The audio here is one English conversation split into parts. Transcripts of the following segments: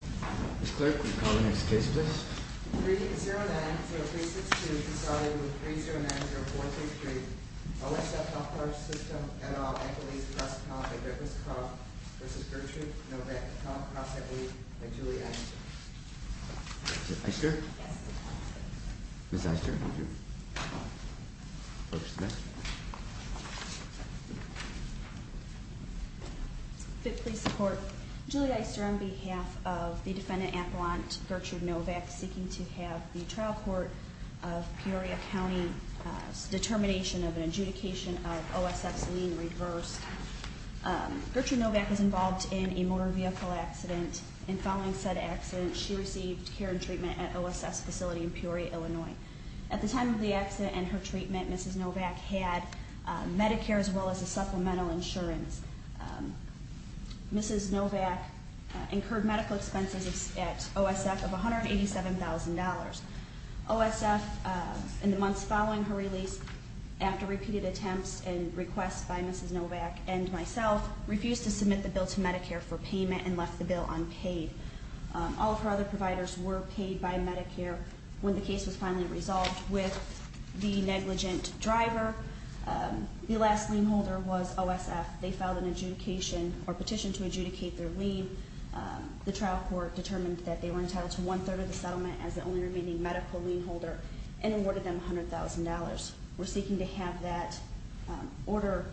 Ms. Clark, will you call the next case, please? 3090362, consolidated with 3090433, OSF Healthcare System, et al, Equity Trust Comp, v. Virtue, Novak, Comp, CrossFit League, by Julie Eister. Is it Eister? Yes. Ms. Eister, would you approach the mic? 5th Police Department, Julie Eister, on behalf of the Defendant Appellant, Gertrude Novak, seeking to have the trial court of Peoria County determination of an adjudication of OSF's lien reversed. Gertrude Novak was involved in a motor vehicle accident, and following said accident, she received care and treatment at OSF's facility in Peoria, Illinois. At the time of the accident and her treatment, Ms. Novak had Medicare as well as a supplemental insurance. Ms. Novak incurred medical expenses at OSF of $187,000. OSF, in the months following her release, after repeated attempts and requests by Ms. Novak and myself, refused to submit the bill to Medicare for payment and left the bill unpaid. All of her other providers were paid by Medicare when the case was finally resolved with the negligent driver. The last lien holder was OSF. They filed an adjudication or petition to adjudicate their lien. The trial court determined that they were entitled to one-third of the settlement as the only remaining medical lien holder and awarded them $100,000. We're seeking to have that order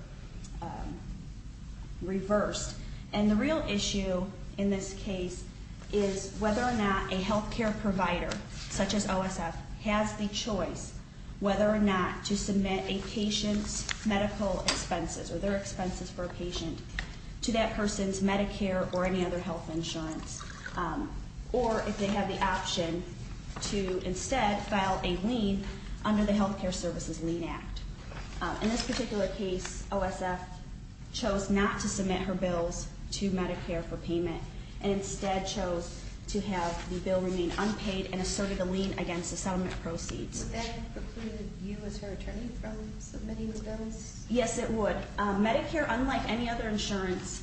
reversed. And the real issue in this case is whether or not a health care provider, such as OSF, has the choice whether or not to submit a patient's medical expenses or their expenses for a patient to that person's Medicare or any other health insurance, or if they have the option to instead file a lien under the Health Care Services Lien Act. In this particular case, OSF chose not to submit her bills to Medicare for payment and instead chose to have the bill remain unpaid and asserted the lien against the settlement proceeds. Would that preclude you as her attorney from submitting the bills? Yes, it would. Medicare, unlike any other insurance,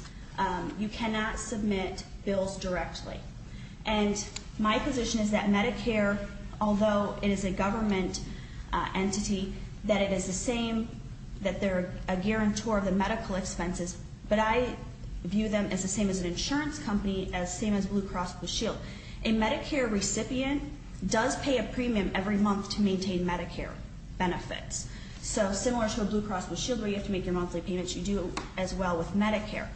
you cannot submit bills directly. And my position is that Medicare, although it is a government entity, that it is the same, that they're a guarantor of the medical expenses, but I view them as the same as an insurance company, as same as Blue Cross Blue Shield. A Medicare recipient does pay a premium every month to maintain Medicare benefits. So similar to a Blue Cross Blue Shield where you have to make your monthly payments, you do as well with Medicare.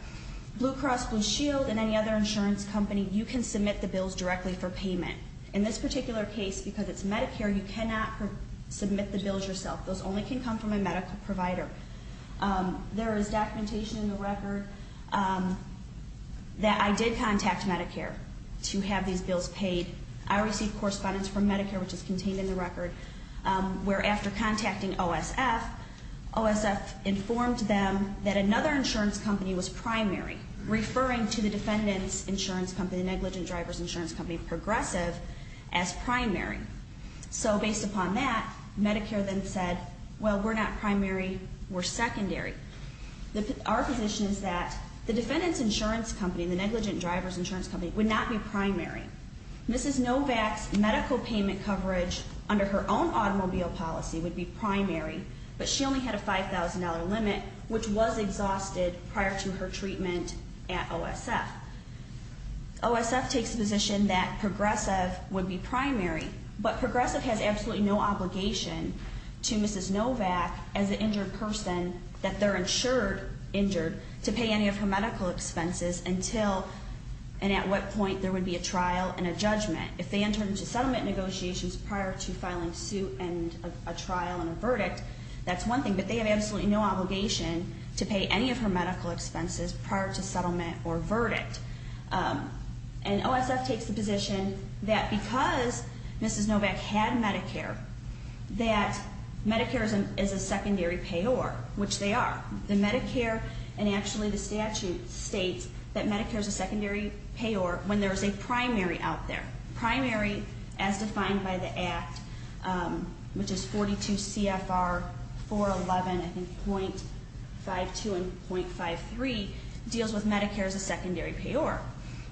Blue Cross Blue Shield and any other insurance company, you can submit the bills directly for payment. In this particular case, because it's Medicare, you cannot submit the bills yourself. Those only can come from a medical provider. There is documentation in the record that I did contact Medicare to have these bills paid. I received correspondence from Medicare, which is contained in the record, where after contacting OSF, OSF informed them that another insurance company was primary, referring to the defendant's insurance company, the negligent driver's insurance company, progressive, as primary. So based upon that, Medicare then said, well, we're not primary, we're secondary. Our position is that the defendant's insurance company, the negligent driver's insurance company, would not be primary. Mrs. Novak's medical payment coverage under her own automobile policy would be primary, but she only had a $5,000 limit, which was exhausted prior to her treatment at OSF. OSF takes the position that progressive would be primary, but progressive has absolutely no obligation to Mrs. Novak as an injured person, that they're insured injured, to pay any of her medical expenses until and at what point there would be a trial and a judgment. If they enter into settlement negotiations prior to filing suit and a trial and a verdict, that's one thing, but they have absolutely no obligation to pay any of her medical expenses prior to settlement or verdict. And OSF takes the position that because Mrs. Novak had Medicare, that Medicare is a secondary payer, which they are. The Medicare and actually the statute states that Medicare is a secondary payer when there is a primary out there. Primary, as defined by the Act, which is 42 CFR 411, I think .52 and .53, deals with Medicare as a secondary payer.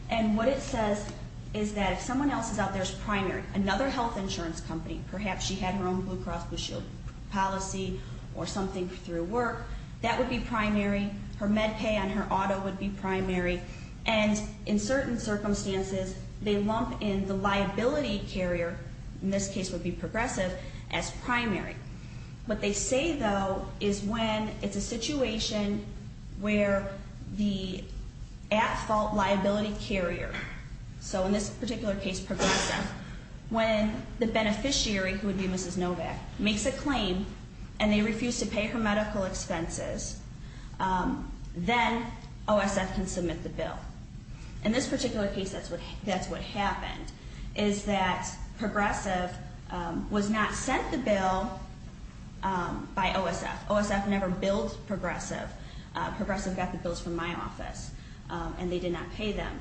And what it says is that if someone else is out there as primary, another health insurance company, perhaps she had her own Blue Cross Blue Shield policy or something through work, that would be primary. Her med pay on her auto would be primary. And in certain circumstances, they lump in the liability carrier, in this case would be Progressive, as primary. What they say, though, is when it's a situation where the at-fault liability carrier, so in this particular case Progressive, when the beneficiary, who would be Mrs. Novak, makes a claim and they refuse to pay her medical expenses, then OSF can submit the bill. In this particular case, that's what happened, is that Progressive was not sent the bill by OSF. OSF never billed Progressive. Progressive got the bills from my office and they did not pay them.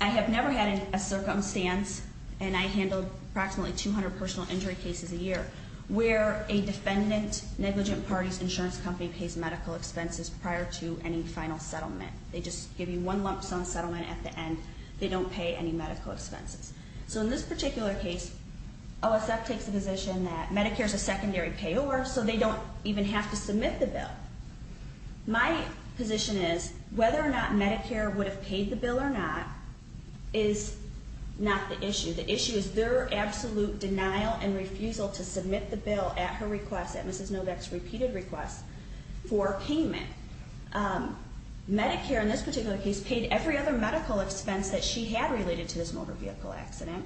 I have never had a circumstance, and I handle approximately 200 personal injury cases a year, where a defendant-negligent party's insurance company pays medical expenses prior to any final settlement. They just give you one lump sum settlement at the end. They don't pay any medical expenses. So in this particular case, OSF takes the position that Medicare is a secondary payor, so they don't even have to submit the bill. My position is whether or not Medicare would have paid the bill or not is not the issue. The issue is their absolute denial and refusal to submit the bill at her request, at Mrs. Novak's repeated request, for payment. Medicare, in this particular case, paid every other medical expense that she had related to this motor vehicle accident,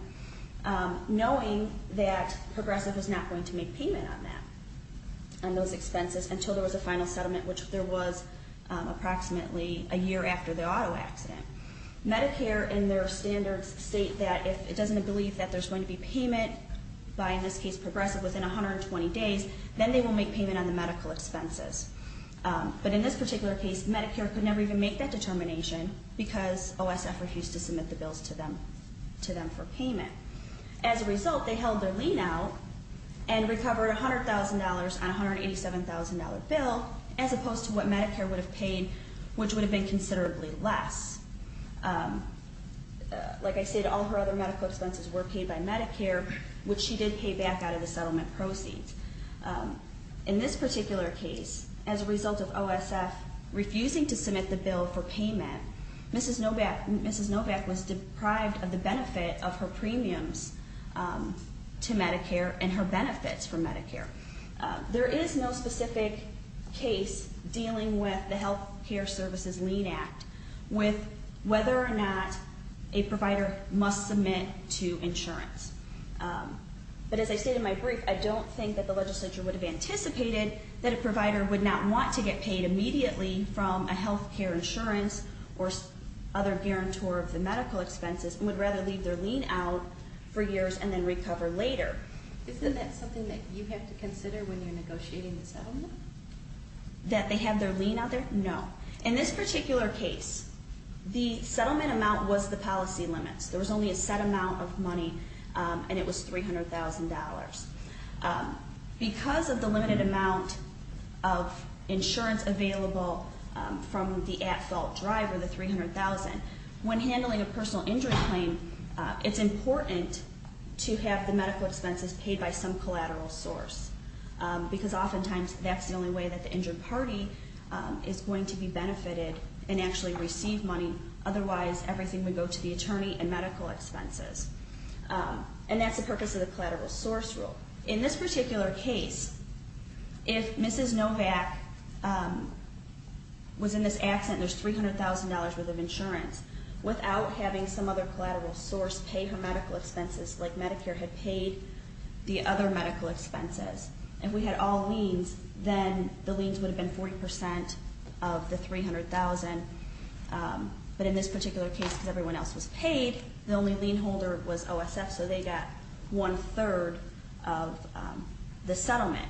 knowing that Progressive was not going to make payment on that, on those expenses, until there was a final settlement, which there was approximately a year after the auto accident. Medicare, in their standards, state that if it doesn't aggrieve that there's going to be payment by, in this case, Progressive within 120 days, then they will make payment on the medical expenses. But in this particular case, Medicare could never even make that determination because OSF refused to submit the bills to them for payment. As a result, they held their lien out and recovered $100,000 on a $187,000 bill, as opposed to what Medicare would have paid, which would have been considerably less. Like I said, all her other medical expenses were paid by Medicare, which she did pay back out of the settlement proceeds. In this particular case, as a result of OSF refusing to submit the bill for payment, Mrs. Novak was deprived of the benefit of her premiums to Medicare and her benefits from Medicare. There is no specific case dealing with the Health Care Services Lien Act with whether or not a provider must submit to insurance. But as I stated in my brief, I don't think that the legislature would have anticipated that a provider would not want to get paid immediately from a health care insurance or other guarantor of the medical expenses and would rather leave their lien out for years and then recover later. Isn't that something that you have to consider when you're negotiating the settlement? That they have their lien out there? No. In this particular case, the settlement amount was the policy limits. There was only a set amount of money, and it was $300,000. Because of the limited amount of insurance available from the at-fault driver, the $300,000, when handling a personal injury claim, it's important to have the medical expenses paid by some collateral source. Because oftentimes that's the only way that the injured party is going to be benefited and actually receive money. Otherwise, everything would go to the attorney and medical expenses. And that's the purpose of the collateral source rule. In this particular case, if Mrs. Novak was in this accident and there's $300,000 worth of insurance, without having some other collateral source pay her medical expenses like Medicare had paid the other medical expenses, and we had all liens, then the liens would have been 40% of the $300,000. But in this particular case, because everyone else was paid, the only lien holder was OSF, so they got one-third of the settlement.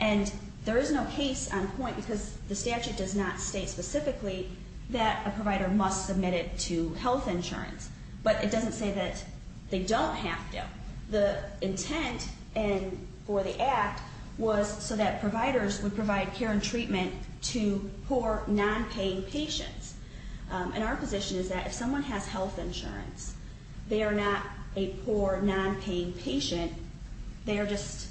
And there is no case on point because the statute does not state specifically that a provider must submit it to health insurance. But it doesn't say that they don't have to. The intent for the act was so that providers would provide care and treatment to poor, non-paying patients. And our position is that if someone has health insurance, they are not a poor, non-paying patient. They are just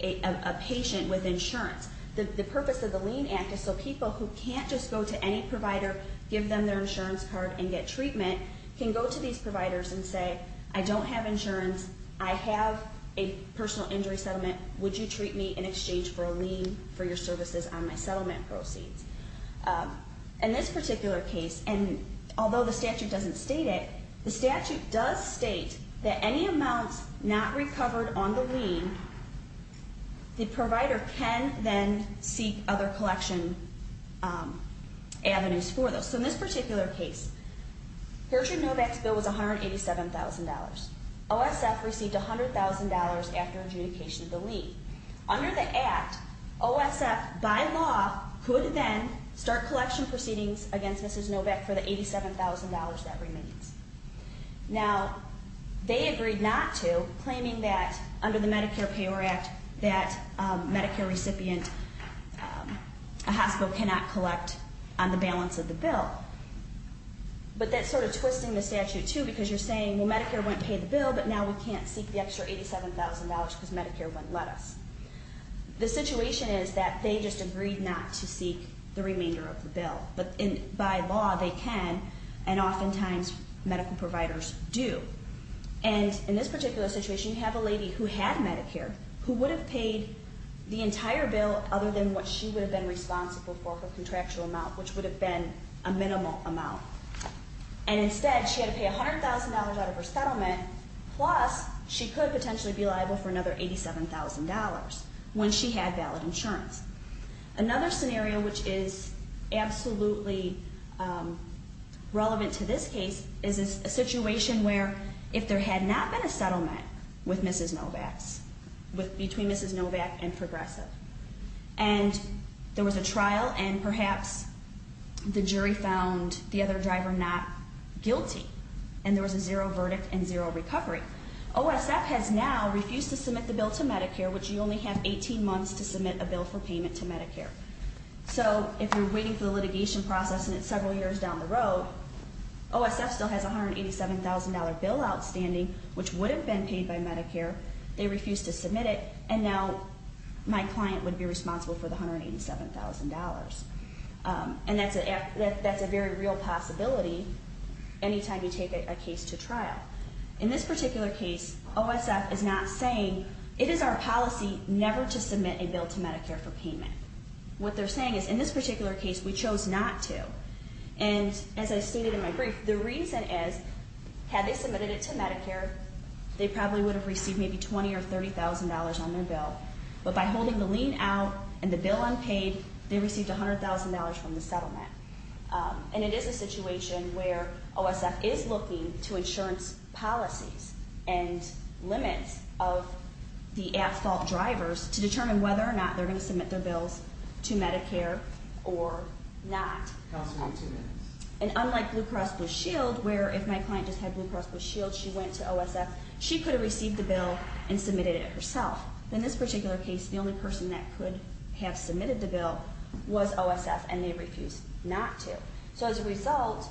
a patient with insurance. The purpose of the lien act is so people who can't just go to any provider, give them their insurance card, and get treatment can go to these providers and say, I don't have insurance. I have a personal injury settlement. Would you treat me in exchange for a lien for your services on my settlement proceeds? In this particular case, and although the statute doesn't state it, the statute does state that any amounts not recovered on the lien, the provider can then seek other collection avenues for those. So in this particular case, Gertrude Novak's bill was $187,000. OSF received $100,000 after adjudication of the lien. Under the act, OSF, by law, could then start collection proceedings against Mrs. Novak for the $87,000 that remains. Now, they agreed not to, claiming that under the Medicare Payor Act that Medicare recipient, a hospital cannot collect on the balance of the bill. But that's sort of twisting the statute, too, because you're saying, well, Medicare wouldn't pay the bill, but now we can't seek the extra $87,000 because Medicare wouldn't let us. The situation is that they just agreed not to seek the remainder of the bill. But by law, they can, and oftentimes medical providers do. And in this particular situation, you have a lady who had Medicare who would have paid the entire bill other than what she would have been responsible for, her minimum amount. And instead, she had to pay $100,000 out of her settlement, plus she could potentially be liable for another $87,000 when she had valid insurance. Another scenario which is absolutely relevant to this case is a situation where if there had not been a settlement with Mrs. Novak's, between Mrs. Novak and the other driver not guilty, and there was a zero verdict and zero recovery, OSF has now refused to submit the bill to Medicare, which you only have 18 months to submit a bill for payment to Medicare. So if you're waiting for the litigation process and it's several years down the road, OSF still has a $187,000 bill outstanding, which would have been paid by Medicare. They refused to submit it, and now my client would be responsible for the $187,000. And that's a very real possibility anytime you take a case to trial. In this particular case, OSF is not saying, it is our policy never to submit a bill to Medicare for payment. What they're saying is, in this particular case, we chose not to. And as I stated in my brief, the reason is, had they submitted it to Medicare, they probably would have received maybe $20,000 or $30,000 on their bill. But by holding the lien out and the bill unpaid, they received $100,000 from the settlement. And it is a situation where OSF is looking to insurance policies and limits of the at-fault drivers to determine whether or not they're going to submit their bills to Medicare or not. And unlike Blue Cross Blue Shield, where if my client just had Blue Cross Blue Shield, she went to OSF, she could have received the bill and submitted it herself. In this particular case, the only person that could have submitted the bill was OSF, and they refused not to. So as a result,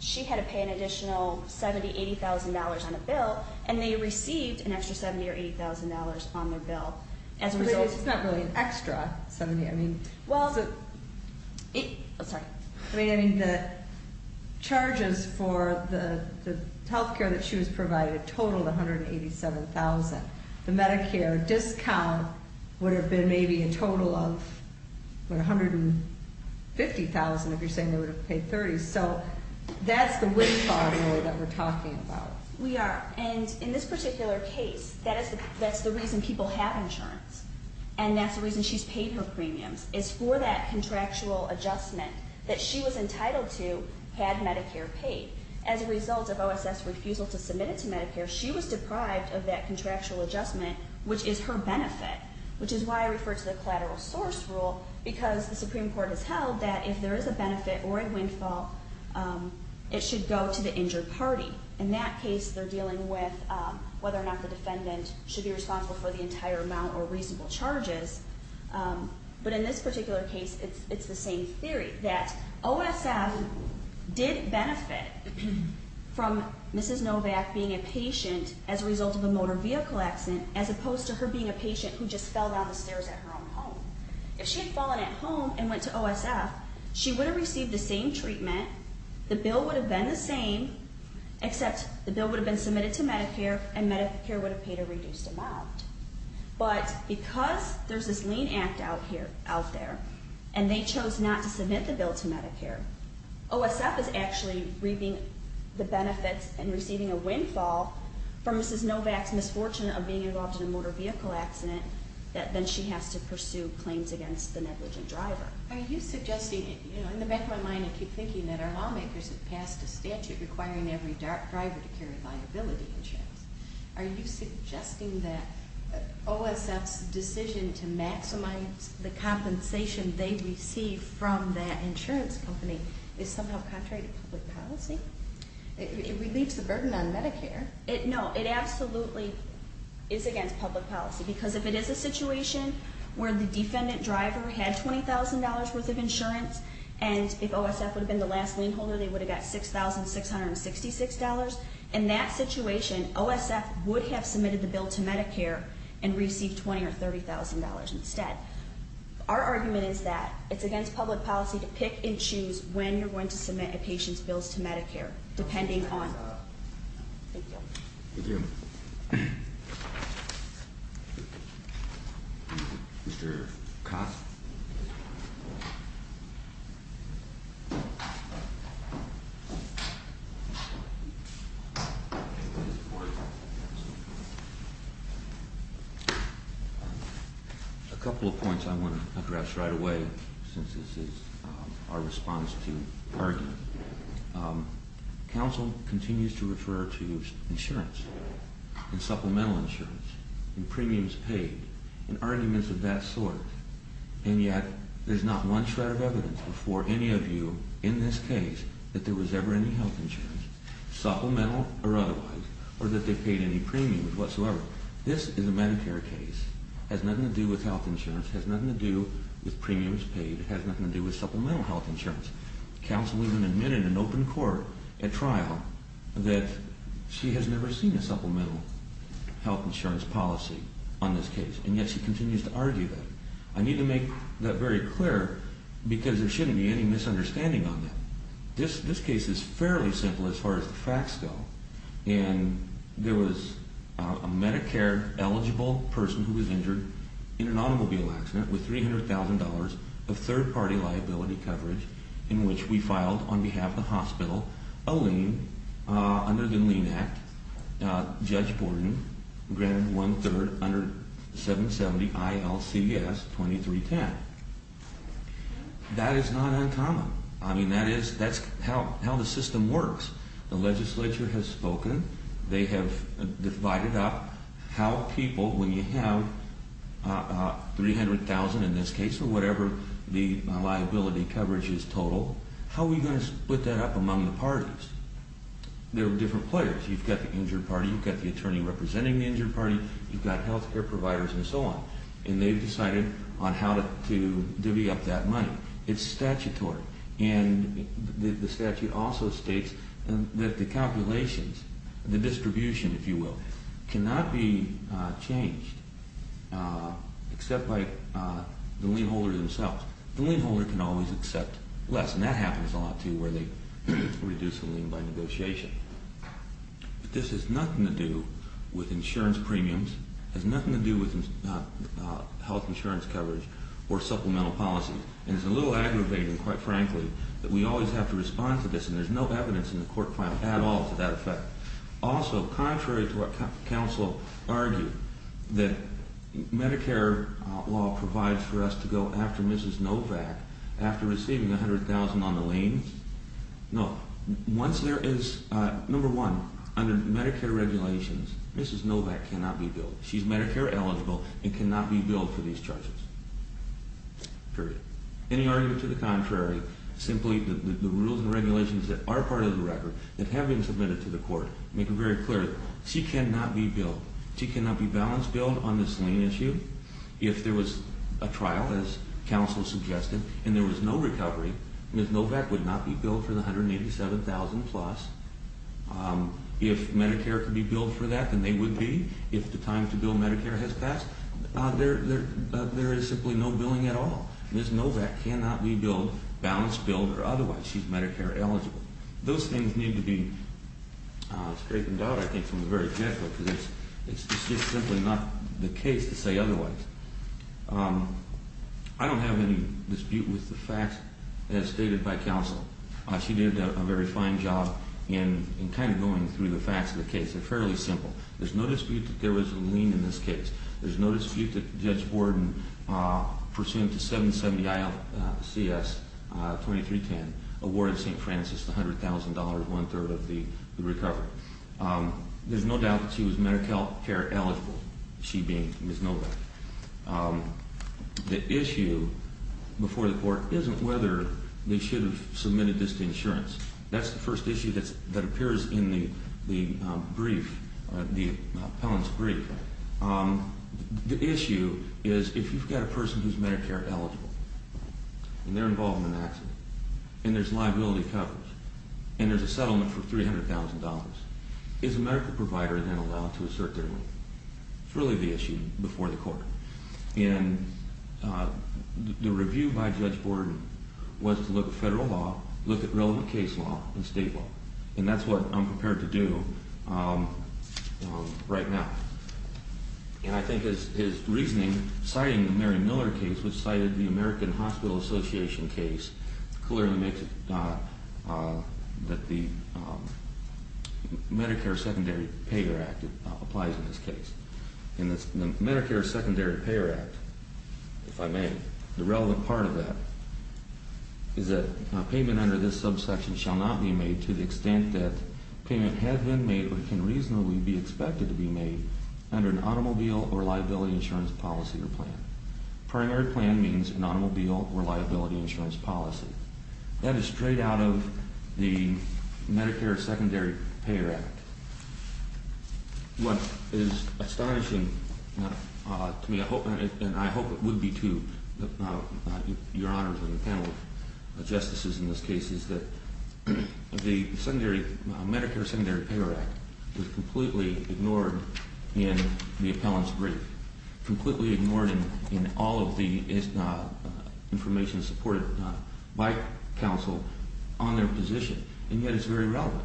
she had to pay an additional $70,000, $80,000 on a bill, and they received an extra $70,000 or $80,000 on their bill as a result. But this is not really an extra $70,000. I mean, the charges for the health care that she was provided totaled $187,000. The Medicare discount would have been maybe a total of, what, $150,000 if you're saying they would have paid $30,000. So that's the windfall, really, that we're talking about. We are. And in this particular case, that's the reason people have insurance, and that's the reason she's paid her premiums, is for that contractual adjustment that she was entitled to had Medicare paid. As a result of OSF's refusal to submit it to Medicare, she was deprived of that contractual adjustment, which is her benefit, which is why I refer to the collateral source rule, because the Supreme Court has held that if there is a benefit or a windfall, it should go to the injured party. In that case, they're dealing with whether or not the defendant should be responsible for the entire amount or reasonable charges. But in this particular case, it's the same theory, that OSF did benefit from Mrs. Novak being a patient as a result of a motor vehicle accident, as opposed to her being a patient who just fell down the stairs at her own home. If she had fallen at home and went to OSF, she would have received the same treatment, the bill would have been the same, except the bill would have been submitted to Medicare, and Medicare would have paid a reduced amount. But because there's this lien act out there, and they chose not to submit the OSF is actually reaping the benefits and receiving a windfall from Mrs. Novak's misfortune of being involved in a motor vehicle accident, that then she has to pursue claims against the negligent driver. Are you suggesting, in the back of my mind I keep thinking that our lawmakers have passed a statute requiring every driver to carry liability insurance. Are you suggesting that OSF's decision to maximize the compensation they receive from that insurance company is somehow contrary to public policy? It relieves the burden on Medicare. No, it absolutely is against public policy, because if it is a situation where the defendant driver had $20,000 worth of insurance, and if OSF would have been the last lien holder, they would have got $6,666. In that situation, OSF would have submitted the bill to Medicare and received $20,000 or $30,000 instead. Our argument is that it's against public policy to pick and choose when you're going to submit a patient's bills to Medicare, depending on. Thank you. Thank you. Mr. Cox? A couple of points I want to address right away, since this is our response to argument. Counsel continues to refer to insurance and supplemental insurance and premiums paid in arguments of that sort, and yet there's not one shred of evidence before any of you in this case that there was ever any health insurance, supplemental or otherwise, or that they paid any premiums whatsoever. This is a Medicare case. It has nothing to do with health insurance. It has nothing to do with premiums paid. It has nothing to do with supplemental health insurance. Counsel even admitted in open court at trial that she has never seen a case, and yet she continues to argue that. I need to make that very clear because there shouldn't be any misunderstanding on that. This case is fairly simple as far as the facts go, and there was a Medicare eligible person who was injured in an automobile accident with $300,000 of third-party liability coverage in which we filed on behalf of the hospital a 770-ILCS-2310. That is not uncommon. I mean, that's how the system works. The legislature has spoken. They have divided up how people, when you have $300,000 in this case or whatever the liability coverage is total, how are we going to split that up among the parties? There are different players. You've got the injured party. You've got the attorney representing the injured party. You've got health care providers and so on, and they've decided on how to divvy up that money. It's statutory, and the statute also states that the calculations, the distribution, if you will, cannot be changed except by the lien holder themselves. The lien holder can always accept less, and that happens a lot too where they reduce the lien by negotiation. This has nothing to do with insurance premiums. It has nothing to do with health insurance coverage or supplemental policy, and it's a little aggravating, quite frankly, that we always have to respond to this, and there's no evidence in the court file at all to that effect. Also, contrary to what counsel argued, that Medicare law provides for us to go after Mrs. Novak after receiving $100,000 on the lien. No. Once there is, number one, under Medicare regulations, Mrs. Novak cannot be billed. She's Medicare eligible and cannot be billed for these charges, period. Any argument to the contrary, simply the rules and regulations that are part of the record that have been submitted to the court make it very clear she cannot be billed. She cannot be balance billed on this lien issue. If there was a trial, as counsel suggested, and there was no recovery, Mrs. Novak cannot be billed for the $187,000 plus. If Medicare could be billed for that, then they would be. If the time to bill Medicare has passed, there is simply no billing at all. Mrs. Novak cannot be balance billed or otherwise. She's Medicare eligible. Those things need to be straightened out, I think, from the very get-go, because it's just simply not the case to say otherwise. I don't have any dispute with the facts as stated by counsel. She did a very fine job in kind of going through the facts of the case. They're fairly simple. There's no dispute that there was a lien in this case. There's no dispute that Judge Borden, pursuant to 770 ILCS 2310, awarded St. Francis $100,000, one-third of the recovery. There's no doubt that she was Medicare eligible, she being Mrs. Novak. The issue before the court isn't whether they should have submitted this to insurance. That's the first issue that appears in the brief, the appellant's brief. The issue is if you've got a person who's Medicare eligible, and they're involved in an accident, and there's liability covers, and there's a settlement for $300,000, is a medical provider then allowed to assert their lien? It's really the issue before the court. And the review by Judge Borden was to look at federal law, look at relevant case law, and state law. And that's what I'm prepared to do right now. And I think his reasoning, citing the Mary Miller case, which cited the American Hospital Association case, clearly makes it that the Medicare Secondary Payer Act applies in this case. And the Medicare Secondary Payer Act, if I may, the relevant part of that, is that payment under this subsection shall not be made to the extent that payment has been made but can reasonably be expected to be made under an automobile or liability insurance policy or plan. Primary plan means an automobile or liability insurance policy. That is straight out of the Medicare Secondary Payer Act. What is astonishing to me, and I hope it would be to your honors and the panel of justices in this case, is that the Medicare Secondary Payer Act was completely ignored in the appellant's brief, completely ignored in all of the information supported by counsel on their position. And yet it's very relevant.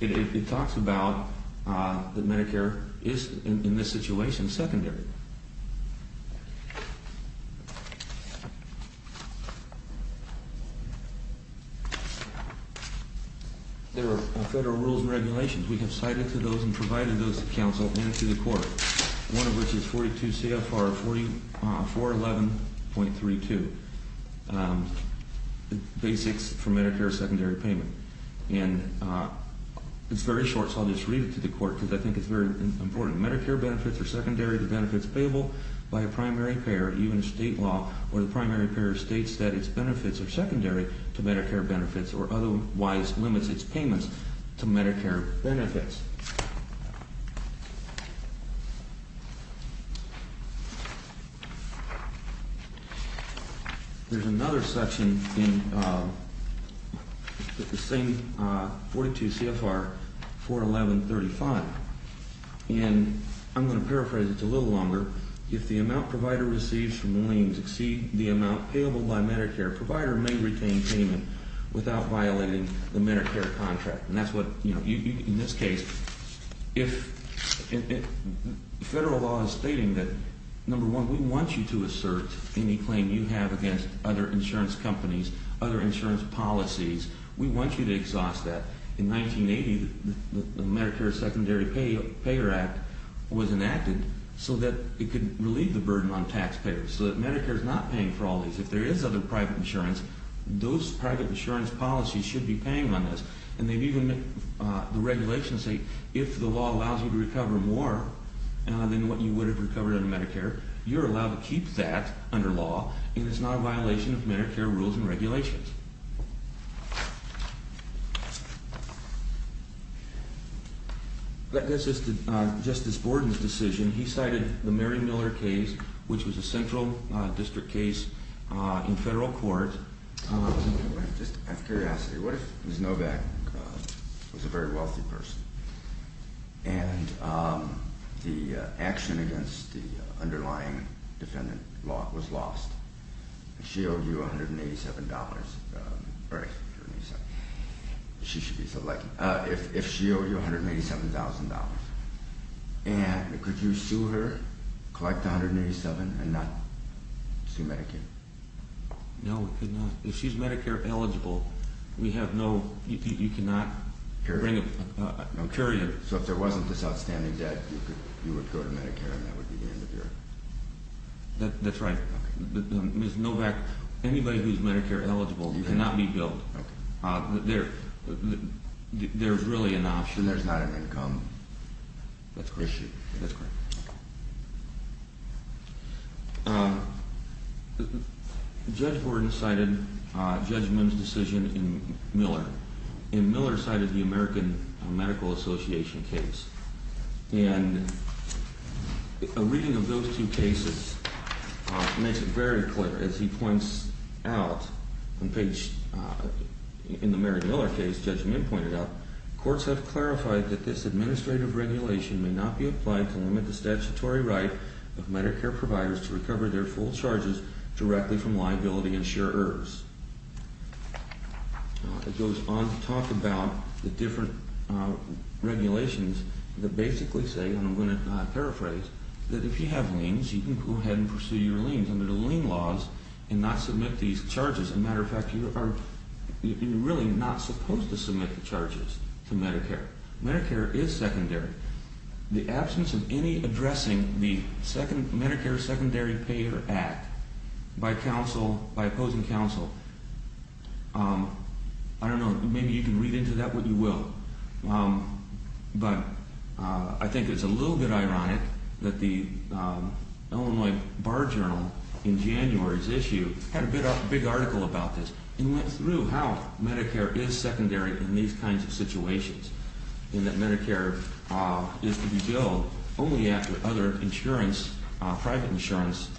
It talks about that Medicare is, in this situation, secondary. There are federal rules and regulations. We have cited to those and provided those to counsel and to the court, one of which is 42 CFR 411.32, the basics for Medicare secondary payment. And it's very short, so I'll just read it to the court because I think it's very important. Medicare benefits are secondary to benefits payable by a primary payer, even if state law or the primary payer states that its benefits are secondary to Medicare benefits or otherwise limits its payments to Medicare benefits. There's another section in the same 42 CFR 411.35, and I'm going to paraphrase it a little longer. If the amount provider receives from liens exceeds the amount payable by Medicare, provider may retain payment without violating the Medicare contract. In this case, federal law is stating that, number one, we want you to assert any claim you have against other insurance companies, other insurance policies. We want you to exhaust that. In 1980, the Medicare Secondary Payer Act was enacted so that it could relieve the burden on taxpayers, so that Medicare is not paying for all these. If there is other private insurance, those private insurance policies should be paying on this. The regulations say if the law allows you to recover more than what you would have recovered under Medicare, you're allowed to keep that under law, and it's not a violation of Medicare rules and regulations. Justice Borden's decision, he cited the Mary Miller case, which was a central district case in federal court. Just out of curiosity, what if Ms. Novak was a very wealthy person, and the action against the underlying defendant was lost? If she owed you $187,000, and could you sue her, collect $187,000, and not sue Medicaid? No, we could not. If she's Medicare eligible, you cannot bring a courier. So if there wasn't this outstanding debt, you would go to Medicare, and that would be the end of your… That's right. Okay. Ms. Novak, anybody who's Medicare eligible cannot be billed. Okay. There's really an option. Then there's not an income issue. That's correct. Judge Borden cited Judge Mims' decision in Miller, and Miller cited the American Medical Association case. And a reading of those two cases makes it very clear. As he points out, in the Mary Miller case, Judge Mims pointed out, courts have clarified that this administrative regulation may not be applied to limit the statutory right of Medicare providers to recover their full charges directly from liability insurers. It goes on to talk about the different regulations that basically say, and I'm going to paraphrase, that if you have liens, you can go ahead and pursue your liens under the lien laws and not submit these charges. As a matter of fact, you are really not supposed to submit the charges to Medicare. Medicare is secondary. The absence of any addressing the Medicare Secondary Payer Act by opposing counsel, I don't know. Maybe you can read into that what you will. But I think it's a little bit ironic that the Illinois Bar Journal in January's issue had a big article about this and went through how Medicare is secondary in these kinds of situations, and that Medicare is to be billed only after other insurance, private insurance,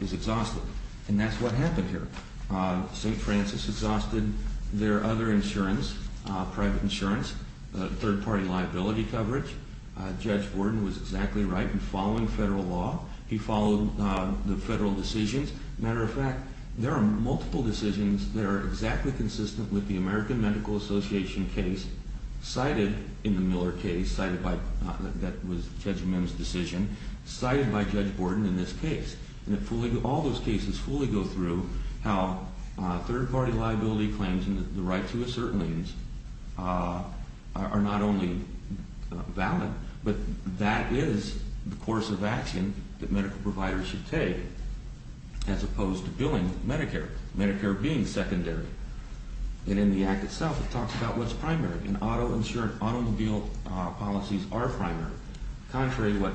is exhausted. And that's what happened here. St. Francis exhausted their other insurance, private insurance, third-party liability coverage. Judge Borden was exactly right in following federal law. He followed the federal decisions. As a matter of fact, there are multiple decisions that are exactly consistent with the American Medical Association case cited in the Miller case, that was Judge Mims' decision, cited by Judge Borden in this case. And all those cases fully go through how third-party liability claims and the right to assert liens are not only valid, but that is the course of action that medical providers should take as opposed to billing Medicare, Medicare being secondary. And in the act itself, it talks about what's primary, and auto policies are primary, contrary to what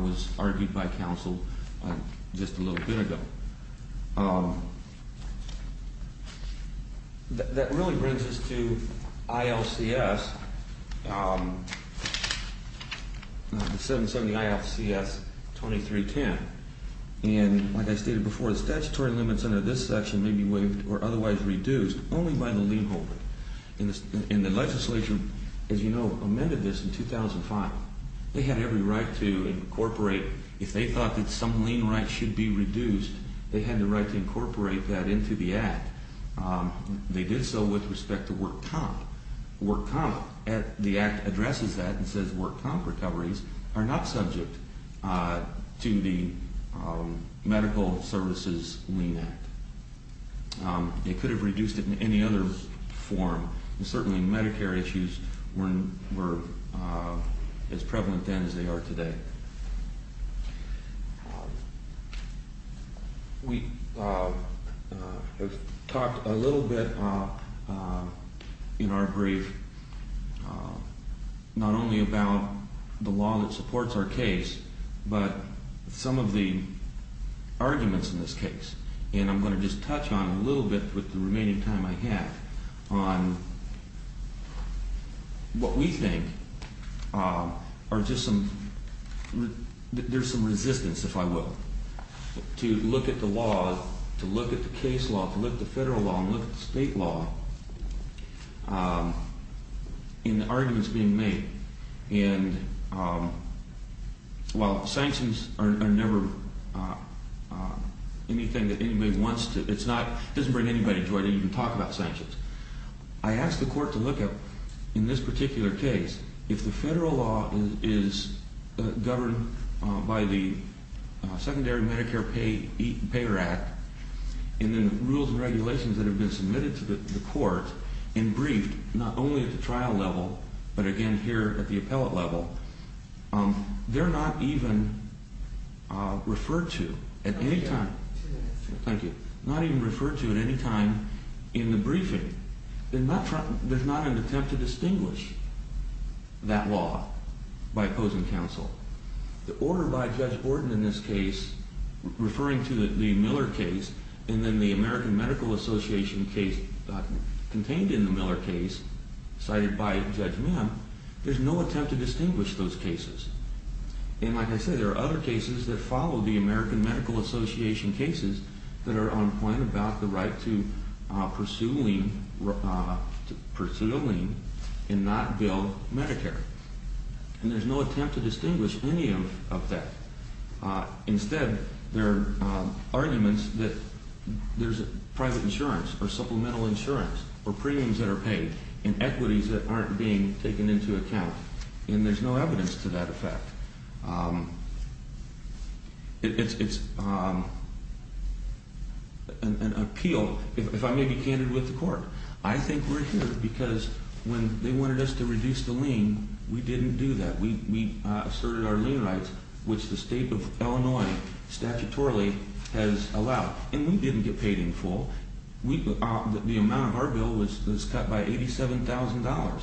was argued by counsel just a little bit ago. That really brings us to ILCS, the 770-ILCS-2310. And like I stated before, the statutory limits under this section may be waived or otherwise reduced only by the lien holder. And the legislature, as you know, amended this in 2005. They had every right to incorporate. If they thought that some lien right should be reduced, they had the right to incorporate that into the act. They did so with respect to work comp. Work comp, the act addresses that and says work comp recoveries are not subject to the Medical Services Lien Act. They could have reduced it in any other form. And certainly Medicare issues were as prevalent then as they are today. We have talked a little bit in our brief not only about the law that supports our case, but some of the arguments in this case. And I'm going to just touch on a little bit with the remaining time I have on what we think are just some – there's some resistance, if I will, to look at the law, to look at the case law, to look at the federal law and look at the state law in the arguments being made. And while sanctions are never anything that anybody wants to – it doesn't bring anybody joy to even talk about sanctions. I asked the court to look at, in this particular case, if the federal law is governed by the Secondary Medicare Payer Act and the rules and regulations that have been submitted to the court and briefed not only at the trial level but again here at the appellate level, they're not even referred to at any time – thank you – not even referred to at any time in the briefing. There's not an attempt to distinguish that law by opposing counsel. The order by Judge Borden in this case referring to the Miller case and then the American Medical Association case contained in the Miller case cited by Judge Mim, there's no attempt to distinguish those cases. And like I said, there are other cases that follow the American Medical Association cases that are on point about the right to pursue a lien and not bill Medicare. And there's no attempt to distinguish any of that. Instead, there are arguments that there's private insurance or supplemental insurance or premiums that are paid and equities that aren't being taken into account. And there's no evidence to that effect. It's an appeal, if I may be candid with the court. I think we're here because when they wanted us to reduce the lien, we didn't do that. We asserted our lien rights, which the state of Illinois statutorily has allowed. And we didn't get paid in full. The amount of our bill was cut by $87,000.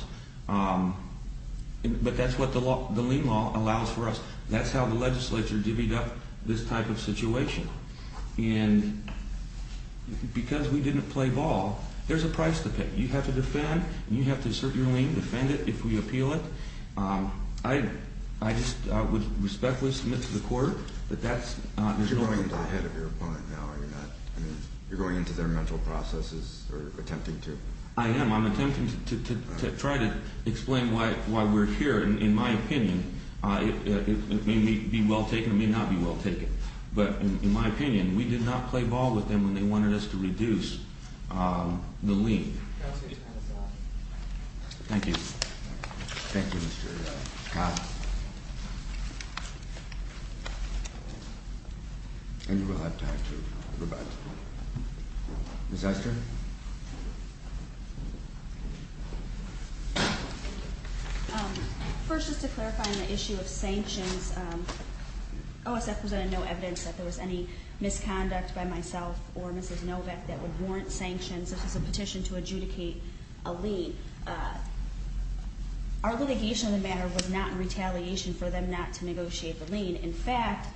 But that's what the lien law allows for us. That's how the legislature divvied up this type of situation. And because we didn't play ball, there's a price to pay. You have to defend, and you have to assert your lien, defend it if we appeal it. I just would respectfully submit to the court that that's not the case. You're going into the head of your opponent now, are you not? I mean, you're going into their mental processes or attempting to. I am. I'm attempting to try to explain why we're here. In my opinion, it may be well taken or may not be well taken. But in my opinion, we did not play ball with them when they wanted us to reduce the lien. Thank you. Thank you, Mr. Cobb. And you will have time to rebut. Ms. Ester? First, just to clarify on the issue of sanctions, OSF presented no evidence that there was any misconduct by myself or Mrs. Novak that would warrant sanctions, such as a petition to adjudicate a lien. Our litigation on the matter was not in retaliation for them not to negotiate the lien. In fact,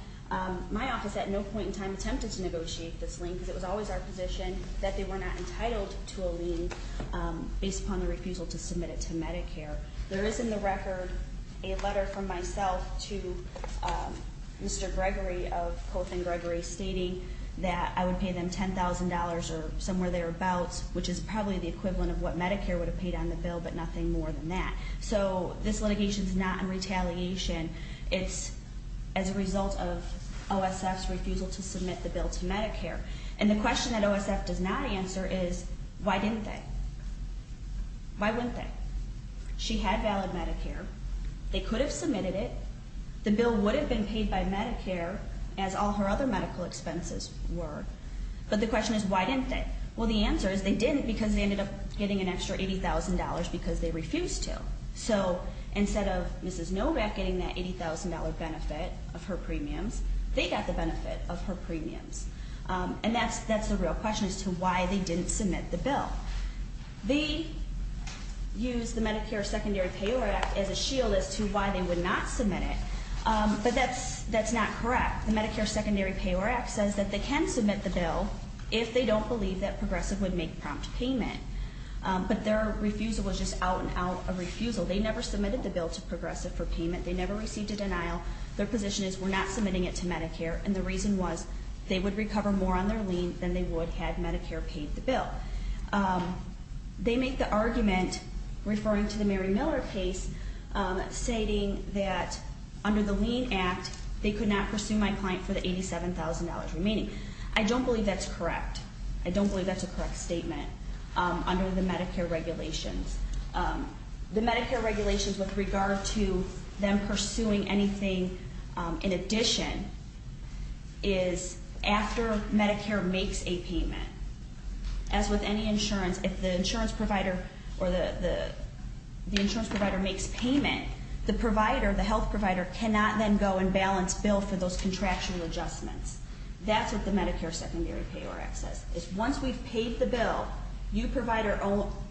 my office at no point in time attempted to negotiate this lien because it was always our position that they were not entitled to a lien based upon the refusal to submit it to Medicare. There is in the record a letter from myself to Mr. Gregory of Coltham Gregory stating that I would pay them $10,000 or somewhere thereabouts, which is probably the equivalent of what Medicare would have paid on the bill, but nothing more than that. So this litigation is not in retaliation. It's as a result of OSF's refusal to submit the bill to Medicare. And the question that OSF does not answer is, why didn't they? Why wouldn't they? She had valid Medicare. They could have submitted it. The bill would have been paid by Medicare, as all her other medical expenses were. But the question is, why didn't they? Well, the answer is they didn't because they ended up getting an extra $80,000 because they refused to. So instead of Mrs. Novak getting that $80,000 benefit of her premiums, they got the benefit of her premiums. And that's the real question as to why they didn't submit the bill. They used the Medicare Secondary Payor Act as a shield as to why they would not submit it, but that's not correct. The Medicare Secondary Payor Act says that they can submit the bill if they don't believe that Progressive would make prompt payment. But their refusal was just out and out a refusal. They never submitted the bill to Progressive for payment. They never received a denial. Their position is we're not submitting it to Medicare, and the reason was they would recover more on their lien than they would had Medicare paid the bill. They make the argument, referring to the Mary Miller case, stating that under the lien act, they could not pursue my client for the $87,000 remaining. I don't believe that's correct. I don't believe that's a correct statement under the Medicare regulations. The Medicare regulations with regard to them pursuing anything in addition is after Medicare makes a payment. As with any insurance, if the insurance provider or the insurance provider makes payment, the provider, the health provider, cannot then go and balance bill for those contractual adjustments. That's what the Medicare Secondary Payor Act says. It's once we've paid the bill, you provider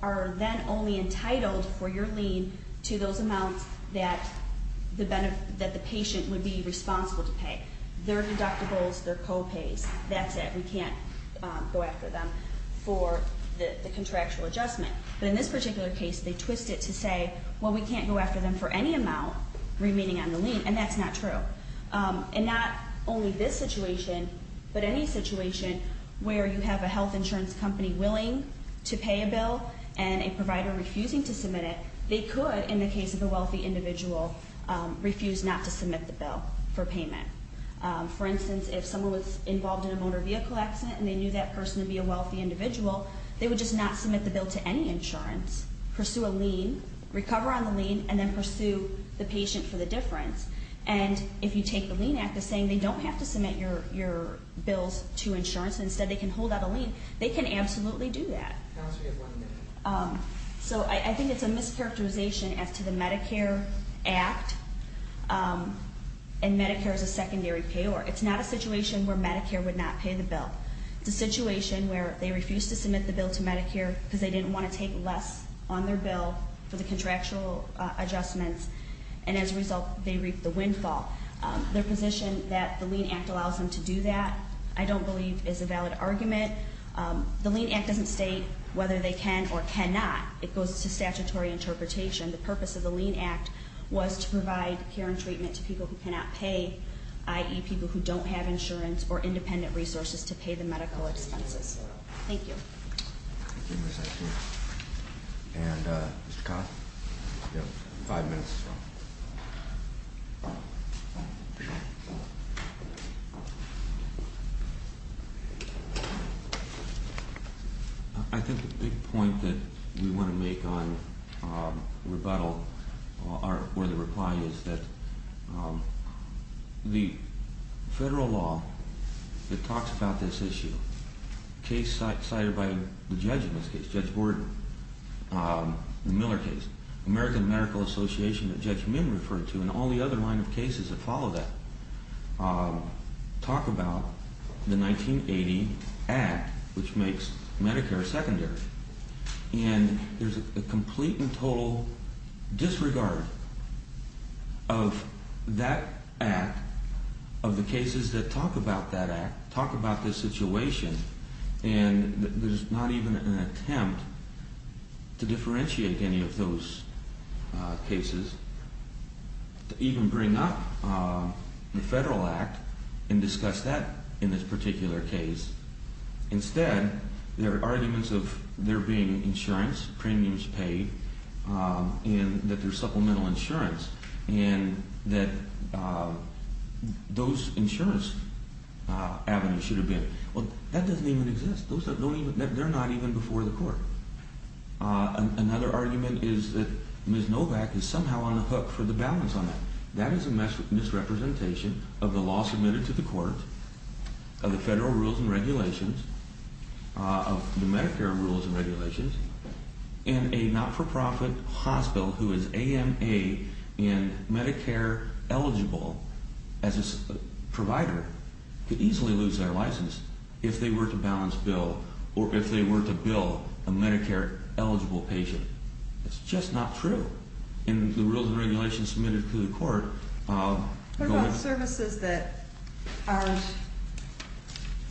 are then only entitled for your lien to those amounts that the patient would be responsible to pay. Their deductibles, their co-pays, that's it. We can't go after them for the contractual adjustment. But in this particular case, they twist it to say, well, we can't go after them for any amount remaining on the lien, and that's not true. And not only this situation, but any situation where you have a health insurance company willing to pay a bill and a provider refusing to submit it, they could, in the case of a wealthy individual, refuse not to submit the bill for payment. For instance, if someone was involved in a motor vehicle accident and they knew that person would be a wealthy individual, they would just not submit the bill to any insurance, pursue a lien, recover on the lien, and then pursue the patient for the difference. And if you take the lien act as saying they don't have to submit your bills to insurance and instead they can hold out a lien, they can absolutely do that. So I think it's a mischaracterization as to the Medicare Act and Medicare as a secondary payor. It's not a situation where Medicare would not pay the bill. It's a situation where they refuse to submit the bill to Medicare because they didn't want to take less on their bill for the contractual adjustments, and as a result they reap the windfall. Their position that the lien act allows them to do that I don't believe is a valid argument. The lien act doesn't state whether they can or cannot. It goes to statutory interpretation. The purpose of the lien act was to provide care and treatment to people who cannot pay, i.e., people who don't have insurance or independent resources to pay the medical expenses. Thank you. Thank you, Ms. Atkins. And Mr. Kahn? You have five minutes. I think the big point that we want to make on rebuttal or the reply is that the federal law that talks about this issue, the case cited by the judge in this case, Judge Borden, the Miller case, American Medical Association that Judge Minn referred to and all the other line of cases that follow that, talk about the 1980 act which makes Medicare secondary. And there's a complete and total disregard of that act, of the cases that talk about that act, talk about this situation, and there's not even an attempt to differentiate any of those cases, to even bring up the federal act and discuss that in this particular case. Instead, there are arguments of there being insurance, premiums paid, and that there's supplemental insurance, and that those insurance avenues should have been. Well, that doesn't even exist. They're not even before the court. Another argument is that Ms. Novak is somehow on the hook for the balance on that. That is a misrepresentation of the law submitted to the court, of the federal rules and regulations, of the Medicare rules and regulations, and a not-for-profit hospital who is AMA and Medicare eligible as a provider could easily lose their license if they were to balance bill or if they were to bill a Medicare eligible patient. It's just not true. In the rules and regulations submitted to the court, What about services that aren't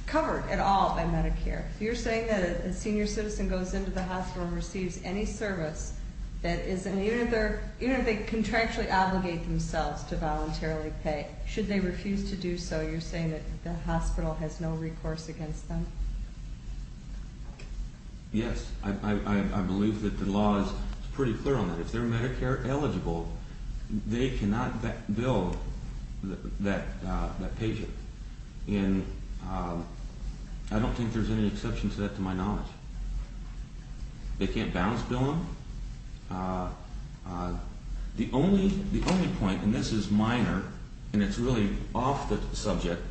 covered at all by Medicare? You're saying that a senior citizen goes into the hospital and receives any service that isn't, even if they contractually obligate themselves to voluntarily pay, should they refuse to do so, you're saying that the hospital has no recourse against them? Yes. I believe that the law is pretty clear on that. If they're Medicare eligible, they cannot bill that patient. And I don't think there's any exception to that to my knowledge. They can't balance bill them. The only point, and this is minor, and it's really off the subject,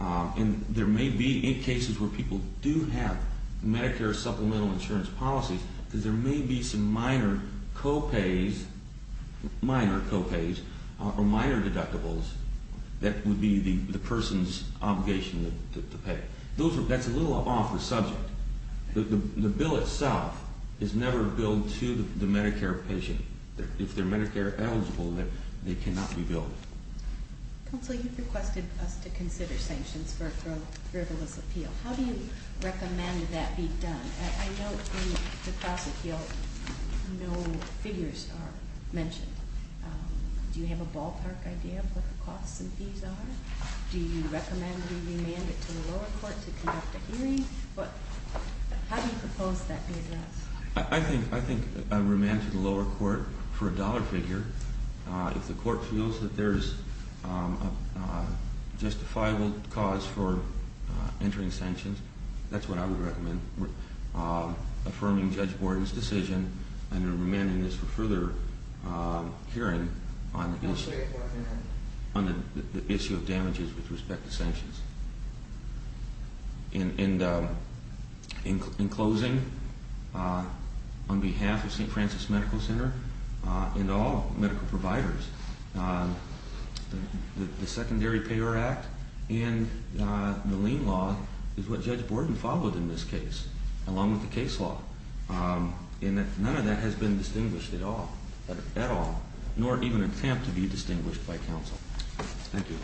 and there may be cases where people do have Medicare supplemental insurance policies, because there may be some minor co-pays or minor deductibles that would be the person's obligation to pay. That's a little off the subject. The bill itself is never billed to the Medicare patient. If they're Medicare eligible, they cannot be billed. Counsel, you've requested us to consider sanctions for a frivolous appeal. How do you recommend that be done? I note in the class appeal no figures are mentioned. Do you have a ballpark idea of what the costs and fees are? Do you recommend we remand it to the lower court to conduct a hearing? How do you propose that be addressed? I think a remand to the lower court for a dollar figure, if the court feels that there's a justifiable cause for entering sanctions, that's what I would recommend, affirming Judge Borden's decision and remanding this for further hearing on the issue of damages with respect to sanctions. In closing, on behalf of St. Francis Medical Center and all medical providers, the Secondary Payor Act and the lien law is what Judge Borden followed in this case, along with the case law. None of that has been distinguished at all, nor even attempt to be distinguished by counsel. Thank you.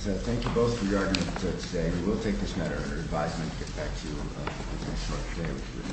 Thank you both for your arguments today. We will take this matter under advisement and get back to you in the next part of the day.